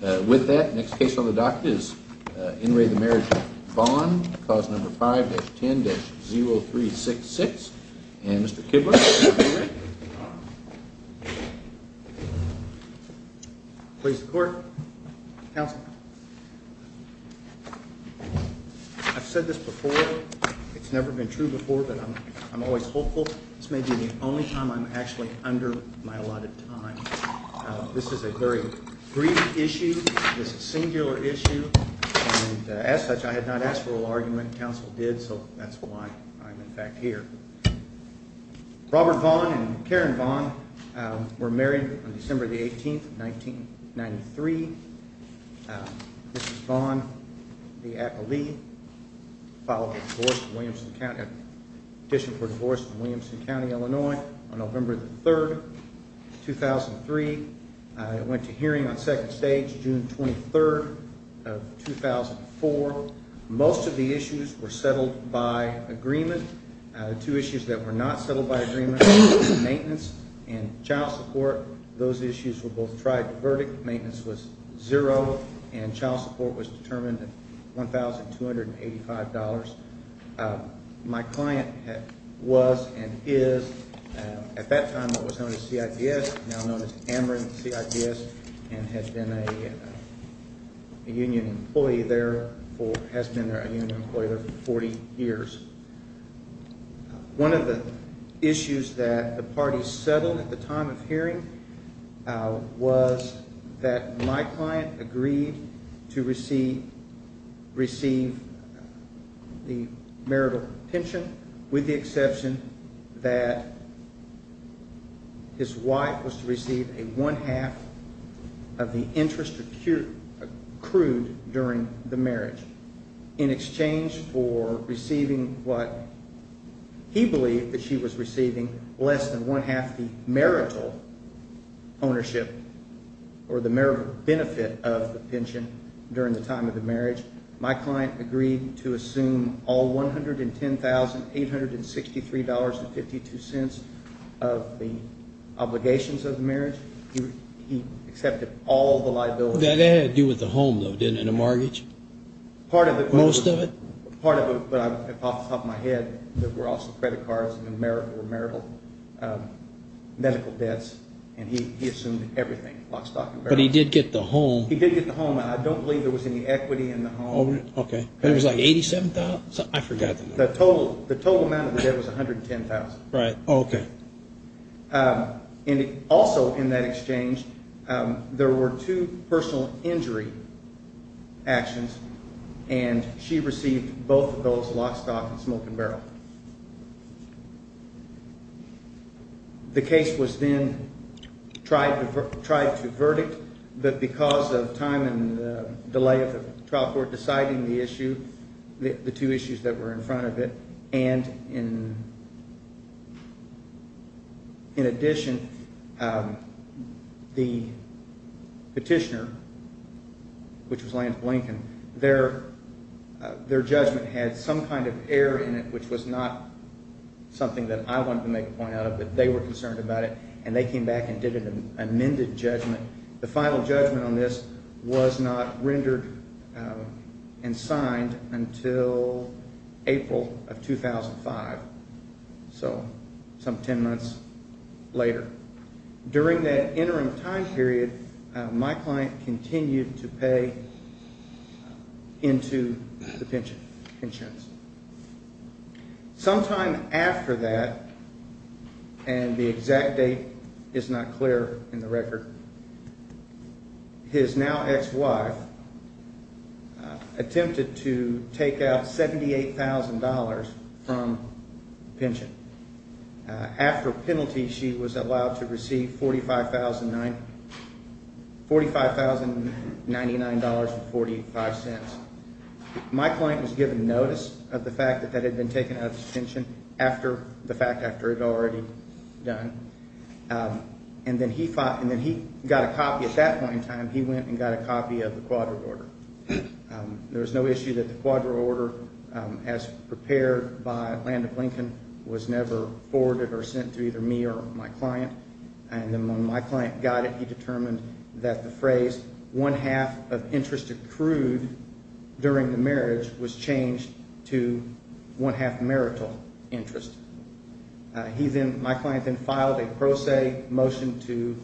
With that, next case on the docket is In re the Marriage of Vaughn. Clause number 5-10-0366. And Mr. Kibler. Please the court. Counsel. I've said this before. It's never been true before, but I'm always hopeful. This may be the only time I'm actually under my allotted time. This is a very brief issue. This is a singular issue. And as such, I had not asked for an argument. Counsel did. So that's why I'm in fact here. Robert Vaughn and Karen Vaughn were married on December 18, 1993. This is Vaughn, the acolyte, filed for divorce in Williamson County, Illinois, on November 3, 2003. I went to hearing on second stage June 23rd of 2004. Most of the issues were settled by agreement. The two issues that were not settled by agreement, maintenance and child support, those issues were both tried to verdict. Maintenance was zero and child support was determined at $1,285. My client was and is at that time what was known as CITS, now known as Ameren CITS, and has been a union employee there for 40 years. One of the issues that the party settled at the time of hearing was that my client agreed to receive the marital pension with the exception that his wife was to receive a one-half of the interest accrued during the marriage. In exchange for receiving what he believed that she was receiving, less than one-half the marital ownership or the marital benefit of the pension during the time of the marriage. My client agreed to assume all $110,863.52 of the obligations of the marriage. He accepted all the liabilities. That had to do with the home, though, didn't it, and the mortgage? Most of it. Part of it, but off the top of my head, there were also credit cards and marital medical debts, and he assumed everything, lock, stock and barrel. But he did get the home. He did get the home. I don't believe there was any equity in the home. Okay. It was like $87,000? I forgot the number. The total amount of the debt was $110,000. Right. Okay. And also in that exchange, there were two personal injury actions, and she received both of those, lock, stock and smoke and barrel. The case was then tried to verdict, but because of time and delay of the trial court deciding the issue, the two issues that were in front of it, and in addition, the petitioner, which was Lance Blinken, their judgment had some kind of error in it, which was not something that I wanted to make a point out of, but they were concerned about it, and they came back and did an amended judgment. The final judgment on this was not rendered and signed until April of 2005, so some ten months later. During that interim time period, my client continued to pay into the pension insurance. Sometime after that, and the exact date is not clear in the record, his now ex-wife attempted to take out $78,000 from pension. After penalty, she was allowed to receive $45,099.45. My client was given notice of the fact that that had been taken out of his pension after the fact, after it had already done, and then he got a copy at that point in time. He went and got a copy of the quadra order. There was no issue that the quadra order, as prepared by Landon Blinken, was never forwarded or sent to either me or my client. And then when my client got it, he determined that the phrase, one half of interest accrued during the marriage, was changed to one half marital interest. My client then filed a pro se motion to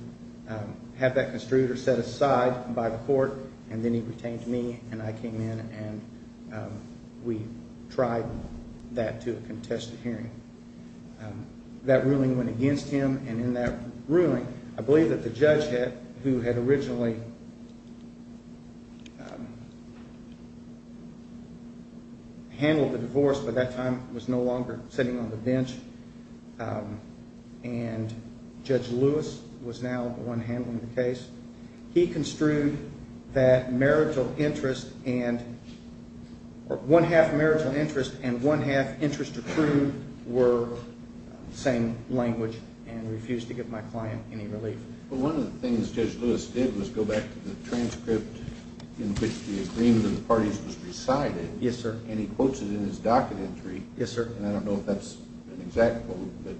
have that construed or set aside by the court, and then he retained to me, and I came in, and we tried that to a contested hearing. That ruling went against him, and in that ruling, I believe that the judge who had originally handled the divorce by that time was no longer sitting on the bench, and Judge Lewis was now the one handling the case. He construed that marital interest and one half marital interest and one half interest accrued were the same language and refused to give my client any relief. Well, one of the things Judge Lewis did was go back to the transcript in which the agreement of the parties was recited. Yes, sir. And he quotes it in his docket entry. Yes, sir. And I don't know if that's an exact quote, but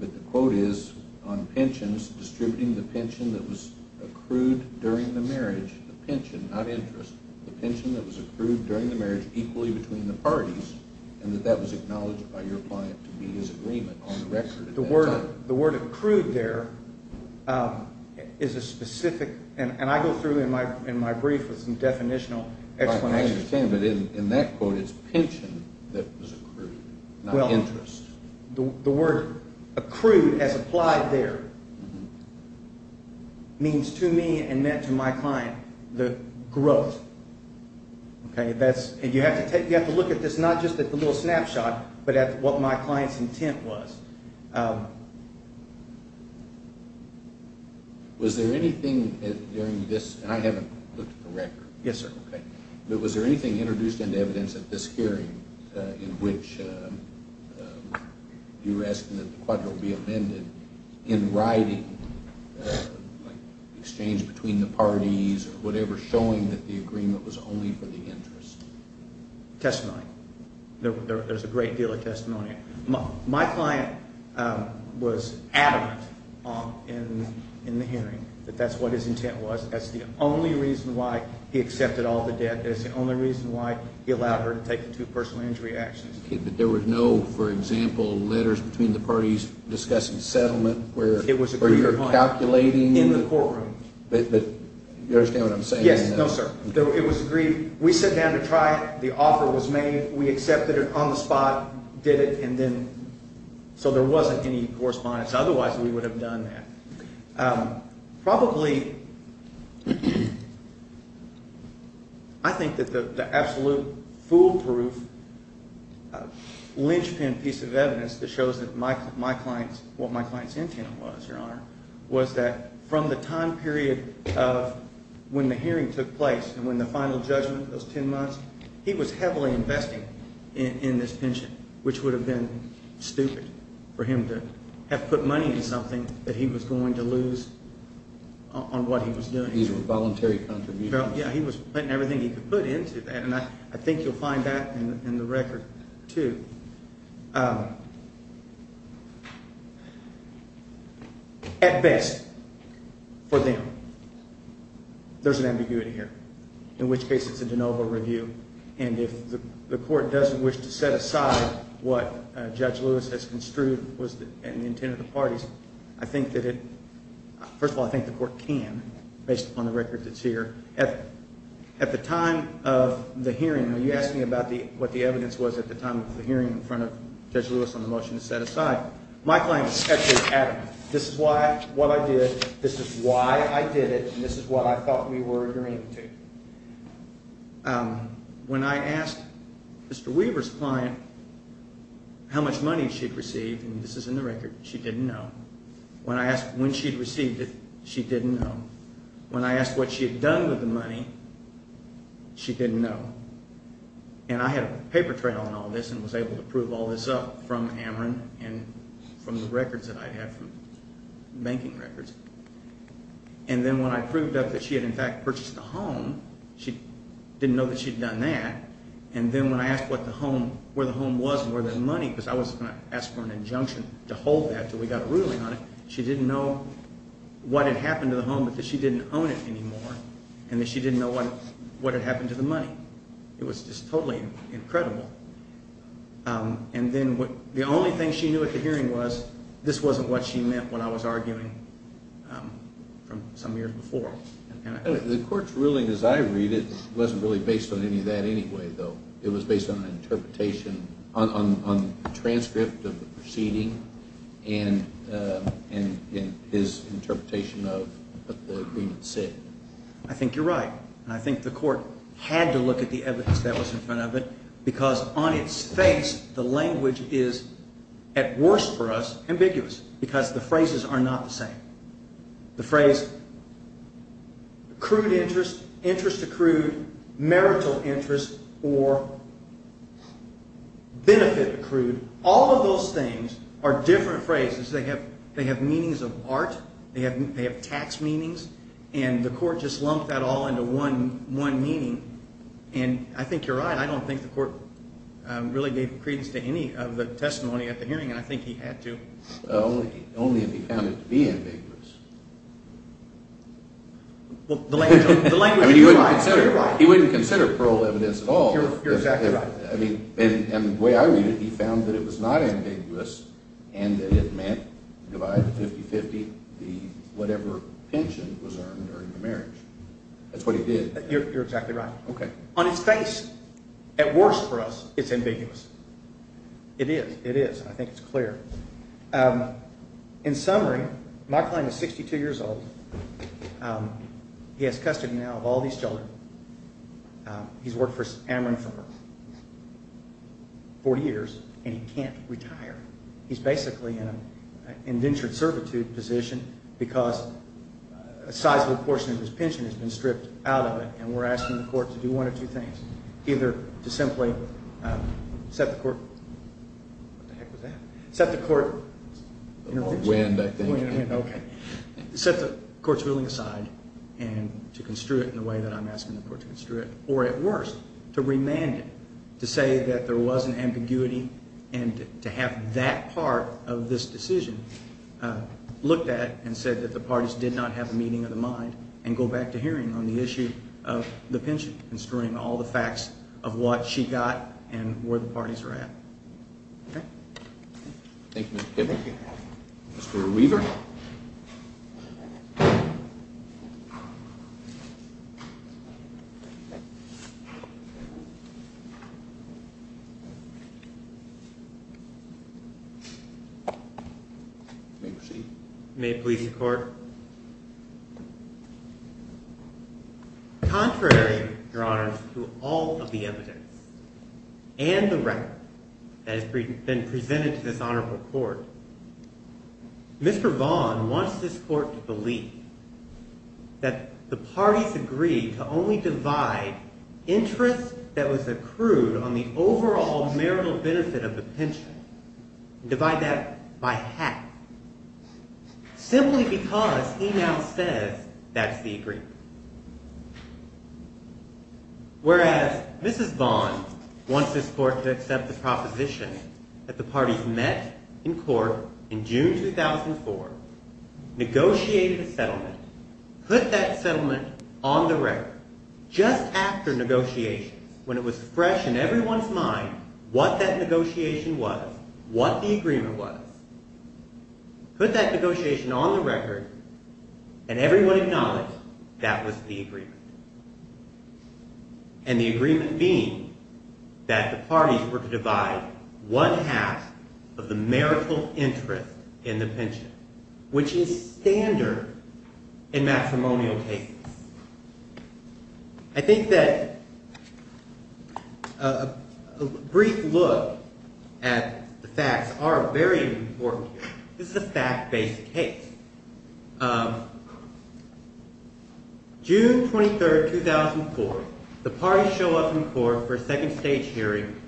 the quote is, on pensions, distributing the pension that was accrued during the marriage, the pension, not interest, the pension that was accrued during the marriage equally between the parties, and that that was acknowledged by your client to be his agreement on the record at that time. The word accrued there is a specific – and I go through in my brief with some definitional explanations. I understand, but in that quote, it's pension that was accrued, not interest. Well, the word accrued as applied there means to me and meant to my client the growth. And you have to look at this, not just at the little snapshot, but at what my client's intent was. Was there anything during this – and I haven't looked at the record. Yes, sir. Okay. But was there anything introduced into evidence at this hearing in which you were asking that the quadro be amended in writing, like exchange between the parties or whatever, showing that the agreement was only for the interest? Testimony. There's a great deal of testimony. My client was adamant in the hearing that that's what his intent was. That's the only reason why he accepted all the debt. That's the only reason why he allowed her to take the two personal injury actions. Okay. But there was no, for example, letters between the parties discussing settlement where you're calculating? It was agreed upon in the courtroom. But you understand what I'm saying? Yes. No, sir. It was agreed. We sat down to try it. The offer was made. We accepted it on the spot, did it, and then – so there wasn't any correspondence. Otherwise, we would have done that. Probably, I think that the absolute foolproof, linchpin piece of evidence that shows that my client's – what my client's intent was, Your Honor, was that from the time period of when the hearing took place and when the final judgment, those 10 months, he was heavily investing in this pension, which would have been stupid for him to have put money in something that he was going to lose on what he was doing. These were voluntary contributions. Yeah. He was putting everything he could put into that, and I think you'll find that in the record too. At best, for them. There's an ambiguity here, in which case it's a de novo review, and if the court doesn't wish to set aside what Judge Lewis has construed was the intent of the parties, I think that it – first of all, I think the court can, based upon the record that's here. At the time of the hearing, when you asked me about what the evidence was at the time of the hearing in front of Judge Lewis on the motion to set aside, my client was sexually adamant. This is what I did, this is why I did it, and this is what I thought we were agreeing to. When I asked Mr. Weaver's client how much money she'd received, and this is in the record, she didn't know. When I asked when she'd received it, she didn't know. When I asked what she had done with the money, she didn't know. And I had a paper trail on all this and was able to prove all this up from Ameren and from the records that I'd had from – banking records. And then when I proved up that she had in fact purchased the home, she didn't know that she'd done that. And then when I asked what the home – where the home was and where the money, because I was going to ask for an injunction to hold that until we got a ruling on it, she didn't know what had happened to the home because she didn't own it anymore, and that she didn't know what had happened to the money. It was just totally incredible. And then the only thing she knew at the hearing was this wasn't what she meant when I was arguing from some years before. The court's ruling as I read it wasn't really based on any of that anyway, though. It was based on an interpretation – on the transcript of the proceeding and his interpretation of what the agreement said. I think you're right. And I think the court had to look at the evidence that was in front of it because on its face the language is, at worst for us, ambiguous because the phrases are not the same. The phrase accrued interest, interest accrued, marital interest, or benefit accrued, all of those things are different phrases. They have meanings of art. They have tax meanings. And the court just lumped that all into one meaning. And I think you're right. I don't think the court really gave credence to any of the testimony at the hearing, and I think he had to. Only if he found it to be ambiguous. Well, the language is right. He wouldn't consider parole evidence at all. You're exactly right. And the way I read it, he found that it was not ambiguous and that it meant to divide the 50-50 the whatever pension was earned during the marriage. That's what he did. You're exactly right. Okay. On its face, at worst for us, it's ambiguous. It is. It is. I think it's clear. In summary, my client is 62 years old. He has custody now of all these children. He's worked for Ameren Farms 40 years, and he can't retire. He's basically in an indentured servitude position because a sizable portion of his pension has been stripped out of it, and we're asking the court to do one of two things. Either to simply set the court's ruling aside and to construe it in the way that I'm asking the court to construe it, or at worst, to remand it, to say that there was an ambiguity and to have that part of this decision looked at and said that the parties did not have a meeting of the mind and go back to hearing on the issue of the pension and screwing all the facts of what she got and where the parties are at. Okay. Thank you, Mr. Kibble. Thank you. Mr. Weaver. May it please the court. Contrary, Your Honors, to all of the evidence and the record that has been presented to this honorable court, Mr. Vaughn wants this court to believe that the parties agreed to only divide interest that was accrued on the overall marital benefit of the pension and divide that by half simply because he now says that's the agreement. Whereas Mrs. Vaughn wants this court to accept the proposition that the parties met in court in June 2004, negotiated a settlement, put that settlement on the record just after negotiations, when it was fresh in everyone's mind what that negotiation was, what the agreement was, put that negotiation on the record and everyone acknowledged that was the agreement. And the agreement being that the parties were to divide one half of the marital interest in the pension, which is standard in matrimonial cases. I think that a brief look at the facts are very important here. This is a fact-based case. June 23, 2004, the parties show up in court for a second stage hearing.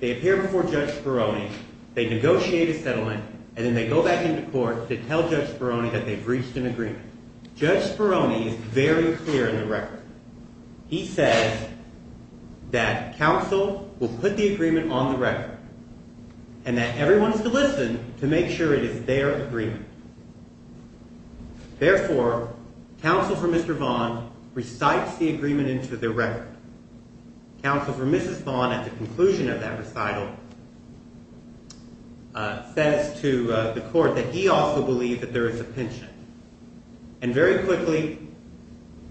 They appear before Judge Speroni. They negotiate a settlement, and then they go back into court to tell Judge Speroni that they've reached an agreement. Judge Speroni is very clear on the record. He says that counsel will put the agreement on the record and that everyone is to listen to make sure it is their agreement. Therefore, counsel for Mr. Vaughn recites the agreement into their record. Counsel for Mrs. Vaughn, at the conclusion of that recital, says to the court that he also believes that there is a pension. And very quickly,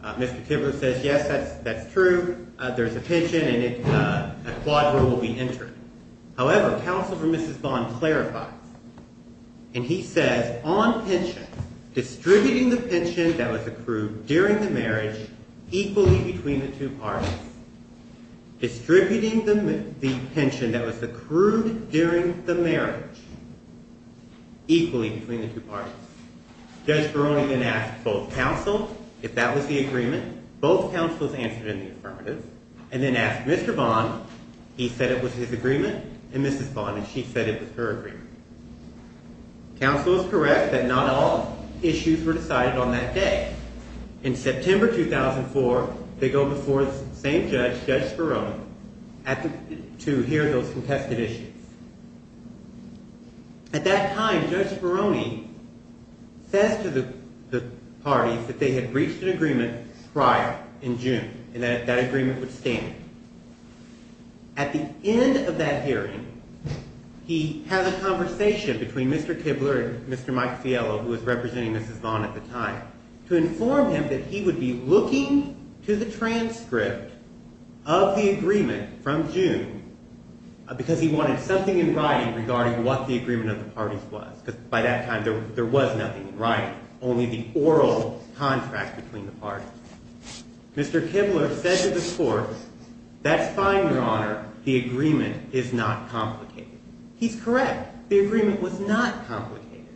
Mr. Kibler says, yes, that's true, there's a pension, and a quadruple will be entered. However, counsel for Mrs. Vaughn clarifies, and he says, on pension, distributing the pension that was accrued during the marriage equally between the two parties, distributing the pension that was accrued during the marriage equally between the two parties. Judge Speroni then asks both counsel if that was the agreement. Both counsels answered in the affirmative, and then asked Mr. Vaughn. He said it was his agreement, and Mrs. Vaughn, and she said it was her agreement. Counsel is correct that not all issues were decided on that day. In September 2004, they go before the same judge, Judge Speroni, to hear those contested issues. At that time, Judge Speroni says to the parties that they had reached an agreement prior, in June, and that that agreement would stand. At the end of that hearing, he has a conversation between Mr. Kibler and Mr. Mike Fiello, who was representing Mrs. Vaughn at the time, to inform him that he would be looking to the transcript of the agreement from June, because he wanted something in writing regarding what the agreement of the parties was, because by that time, there was nothing in writing, only the oral contract between the parties. Mr. Kibler said to the court, that's fine, Your Honor, the agreement is not complicated. He's correct. The agreement was not complicated.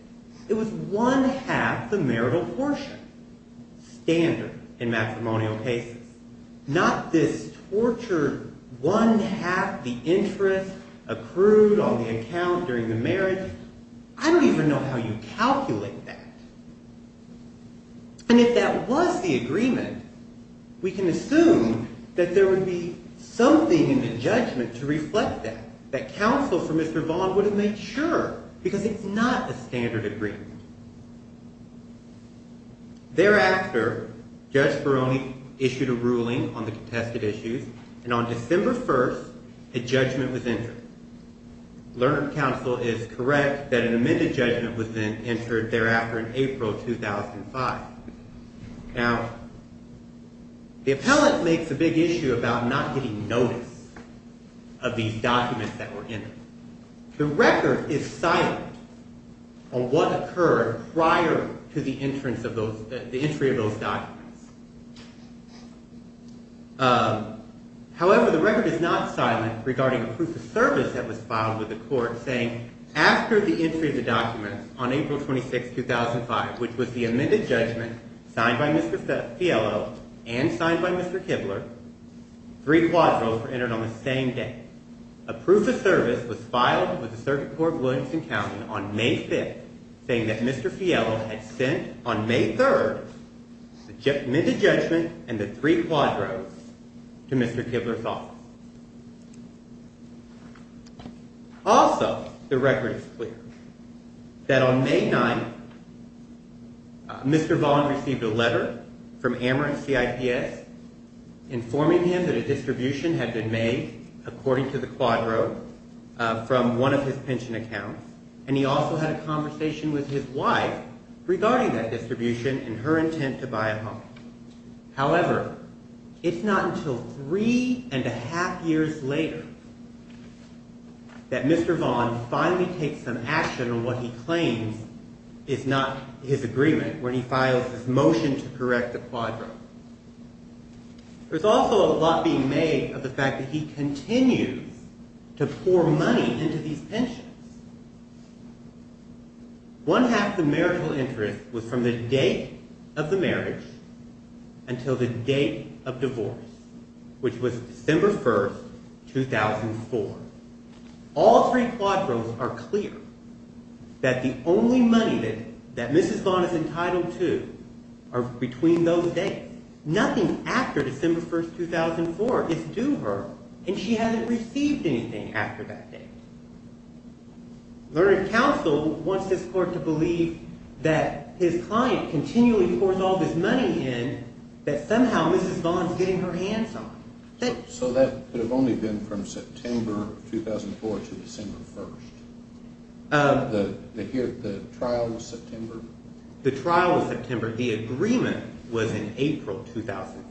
It was one half the marital portion, standard in matrimonial cases, not this tortured one half the interest accrued on the account during the marriage. I don't even know how you calculate that. And if that was the agreement, we can assume that there would be something in the judgment to reflect that, that counsel for Mr. Vaughn would have made sure, because it's not a standard agreement. Thereafter, Judge Ferroni issued a ruling on the contested issues, and on December 1st, a judgment was entered. Learned counsel is correct that an amended judgment was then entered thereafter in April 2005. Now, the appellant makes a big issue about not getting notice of these documents that were entered. The record is silent on what occurred prior to the entrance of those, the entry of those documents. However, the record is not silent regarding a proof of service that was filed with the court, saying after the entry of the documents on April 26th, 2005, which was the amended judgment signed by Mr. Fiello and signed by Mr. Kibler, three quadros were entered on the same day. A proof of service was filed with the Circuit Court of Williamson County on May 5th, saying that Mr. Fiello had sent, on May 3rd, the amended judgment and the three quadros to Mr. Kibler's office. Also, the record is clear that on May 9th, Mr. Vaughan received a letter from Amherst CITS informing him that a distribution had been made, according to the quadro, from one of his pension accounts, and he also had a conversation with his wife regarding that distribution and her intent to buy a home. However, it's not until three and a half years later that Mr. Vaughan finally takes some action on what he claims is not his agreement, when he files his motion to correct the quadro. There's also a lot being made of the fact that he continues to pour money into these pensions. One half of the marital interest was from the date of the marriage until the date of divorce, which was December 1st, 2004. All three quadros are clear that the only money that Mrs. Vaughan is entitled to are between those dates. Nothing after December 1st, 2004 is due her, and she hasn't received anything after that date. Learned Counsel wants this court to believe that his client continually pours all this money in that somehow Mrs. Vaughan is getting her hands on. So that could have only been from September 2004 to December 1st? The trial was September? The trial was September. The agreement was in April 2004.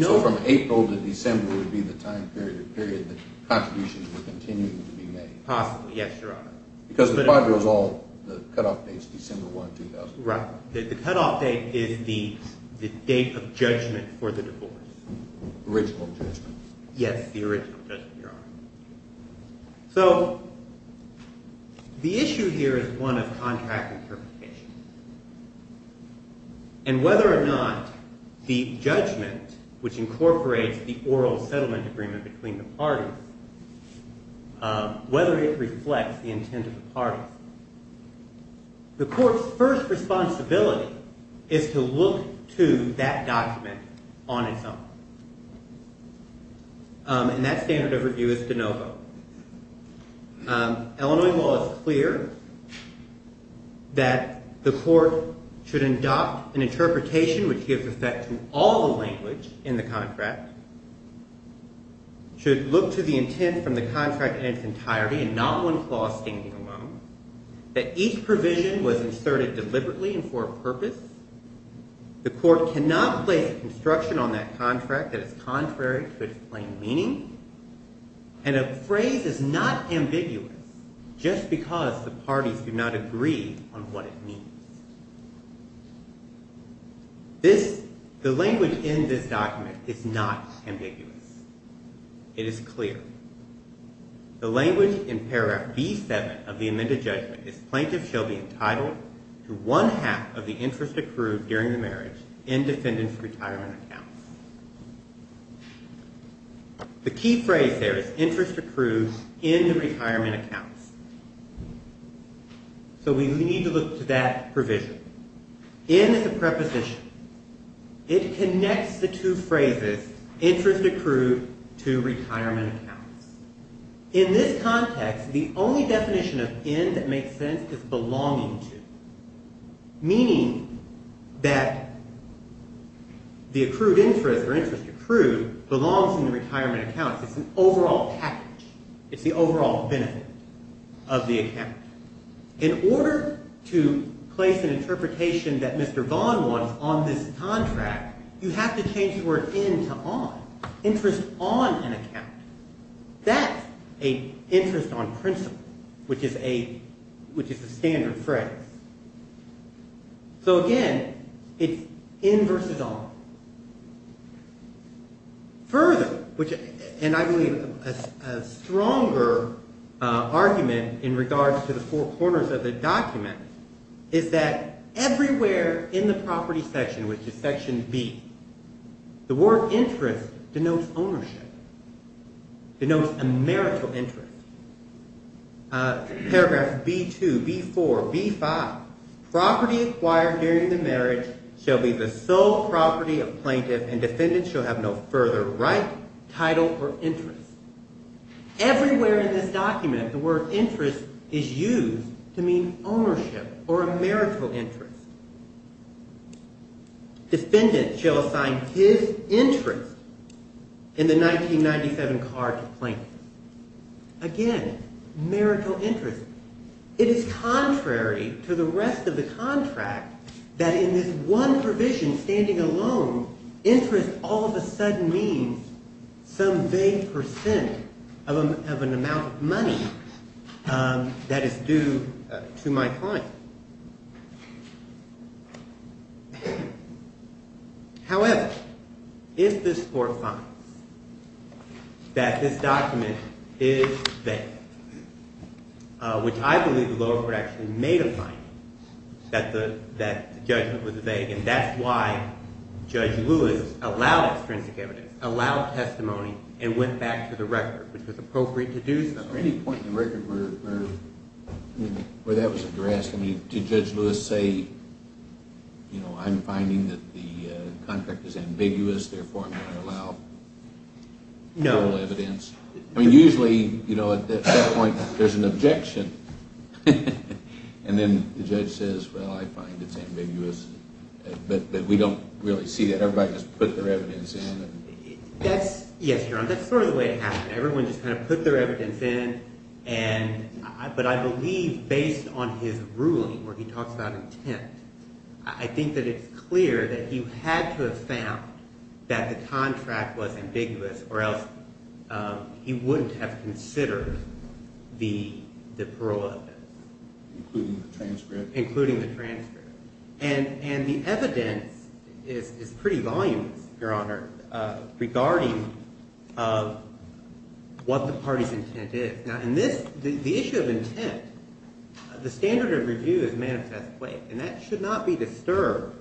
So from April to December would be the time period that contributions were continuing to be made? Possibly, yes, Your Honor. Because the quadro is all the cutoff dates, December 1st, 2004. Right. The cutoff date is the date of judgment for the divorce. Original judgment. Yes, the original judgment, Your Honor. So the issue here is one of contract interpretation. And whether or not the judgment, which incorporates the oral settlement agreement between the parties, whether it reflects the intent of the parties, the court's first responsibility is to look to that document on its own. And that standard of review is de novo. Illinois law is clear that the court should adopt an interpretation which gives effect to all the language in the contract, should look to the intent from the contract in its entirety and not one clause standing alone, that each provision was inserted deliberately and for a purpose. The court cannot place a construction on that contract that is contrary to its plain meaning. And a phrase is not ambiguous just because the parties do not agree on what it means. The language in this document is not ambiguous. It is clear. The language in paragraph B-7 of the amended judgment is plaintiff shall be entitled to one half of the interest accrued during the marriage in defendant's retirement accounts. The key phrase there is interest accrued in the retirement accounts. So we need to look to that provision. In the preposition, it connects the two phrases interest accrued to retirement accounts. In this context, the only definition of in that makes sense is belonging to, meaning that the accrued interest or interest accrued belongs in the retirement accounts. It's an overall package. It's the overall benefit of the account. In order to place an interpretation that Mr. Vaughan wants on this contract, you have to change the word in to on, interest on an account. That's an interest on principle, which is a standard phrase. So again, it's in versus on. Further, and I believe a stronger argument in regards to the four corners of the document, is that everywhere in the property section, which is section B, the word interest denotes ownership, denotes a marital interest. Paragraphs B-2, B-4, B-5. Property acquired during the marriage shall be the sole property of plaintiff, and defendant shall have no further right, title, or interest. Everywhere in this document, the word interest is used to mean ownership or a marital interest. Defendant shall assign his interest in the 1997 card to plaintiff. Again, marital interest. It is contrary to the rest of the contract that in this one provision standing alone, interest all of a sudden means some vague percent of an amount of money that is due to my client. However, if this Court finds that this document is vague, which I believe the lower court actually made a finding that the judgment was vague, and that's why Judge Lewis allowed extrinsic evidence, allowed testimony, and went back to the record, which was appropriate to do so. At any point in the record where that was addressed, did Judge Lewis say, you know, I'm finding that the contract is ambiguous, therefore I'm going to allow oral evidence? No. I mean, usually, you know, at that point, there's an objection. And then the judge says, well, I find it's ambiguous, but we don't really see that. Everybody just put their evidence in. Everyone just kind of put their evidence in. But I believe based on his ruling where he talks about intent, I think that it's clear that he had to have found that the contract was ambiguous or else he wouldn't have considered the parole evidence. Including the transcript? Including the transcript. And the evidence is pretty voluminous, Your Honor, regarding what the party's intent is. Now, in this, the issue of intent, the standard of review is manifestly vague, and that should not be disturbed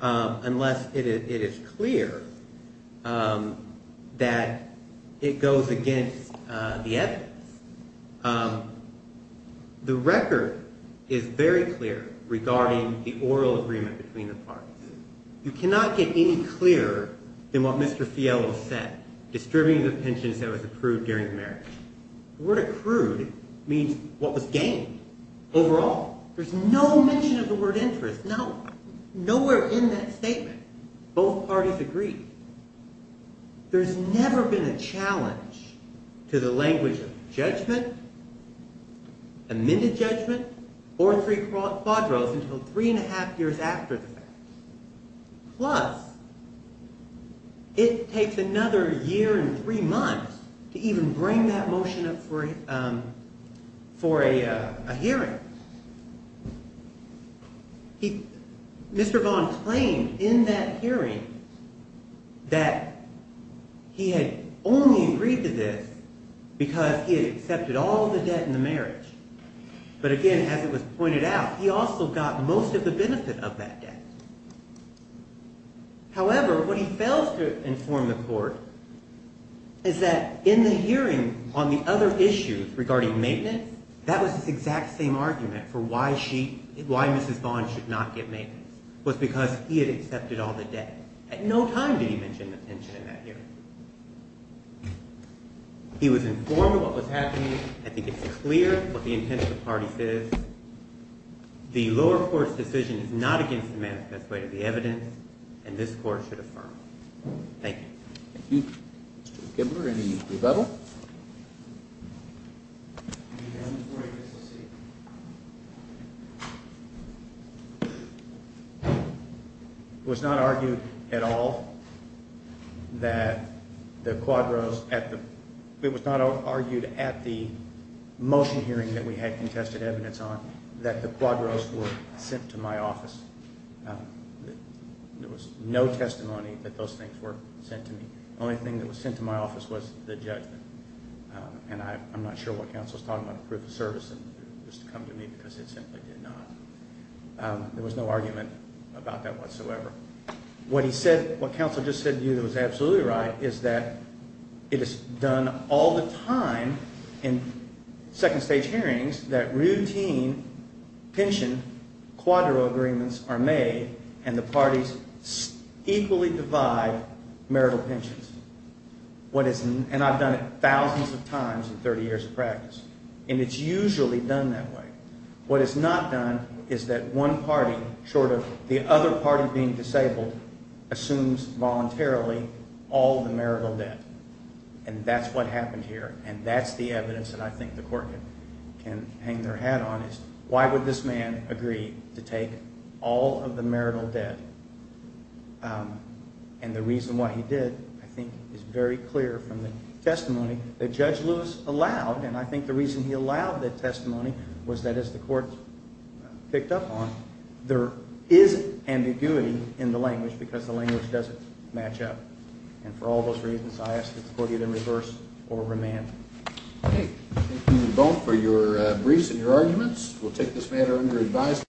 unless it is clear that it goes against the evidence. The record is very clear regarding the oral agreement between the parties. You cannot get any clearer than what Mr. Fiello said, distributing the pensions that was approved during the marriage. The word accrued means what was gained overall. There's no mention of the word interest. Nowhere in that statement. Both parties agreed. There's never been a challenge to the language of judgment, amended judgment, or three quadros until three and a half years after the fact. Plus, it takes another year and three months to even bring that motion up for a hearing. Mr. Vaughn claimed in that hearing that he had only agreed to this because he had accepted all of the debt in the marriage. But again, as it was pointed out, he also got most of the benefit of that debt. However, what he fails to inform the court is that in the hearing on the other issues regarding maintenance, that was his exact same argument for why Mrs. Vaughn should not get maintenance was because he had accepted all the debt. At no time did he mention the pension in that hearing. He was informed of what was happening. I think it's clear what the intent of the parties is. The lower court's decision is not against the management's way to the evidence, and this court should affirm. Thank you. Thank you. Mr. Kibler, any rebuttal? It was not argued at all that the quadros at the It was not argued at the motion hearing that we had contested evidence on that the quadros were sent to my office. There was no testimony that those things were sent to me. The only thing that was sent to my office was the judgment. And I'm not sure what counsel is talking about, proof of service, just to come to me because it simply did not. There was no argument about that whatsoever. What he said, what counsel just said to you that was absolutely right, is that it is done all the time in second stage hearings that routine pension quadro agreements are made, and the parties equally divide marital pensions. And I've done it thousands of times in 30 years of practice. And it's usually done that way. What is not done is that one party, short of the other party being disabled, assumes voluntarily all the marital debt. And that's what happened here, and that's the evidence that I think the court can hang their hat on is why would this man agree to take all of the marital debt? And the reason why he did, I think, is very clear from the testimony that Judge Lewis allowed. And I think the reason he allowed that testimony was that, as the court picked up on, there is ambiguity in the language because the language doesn't match up. And for all those reasons, I ask that the court either reverse or remand. Okay. Thank you both for your briefs and your arguments. We'll take this matter under advisory.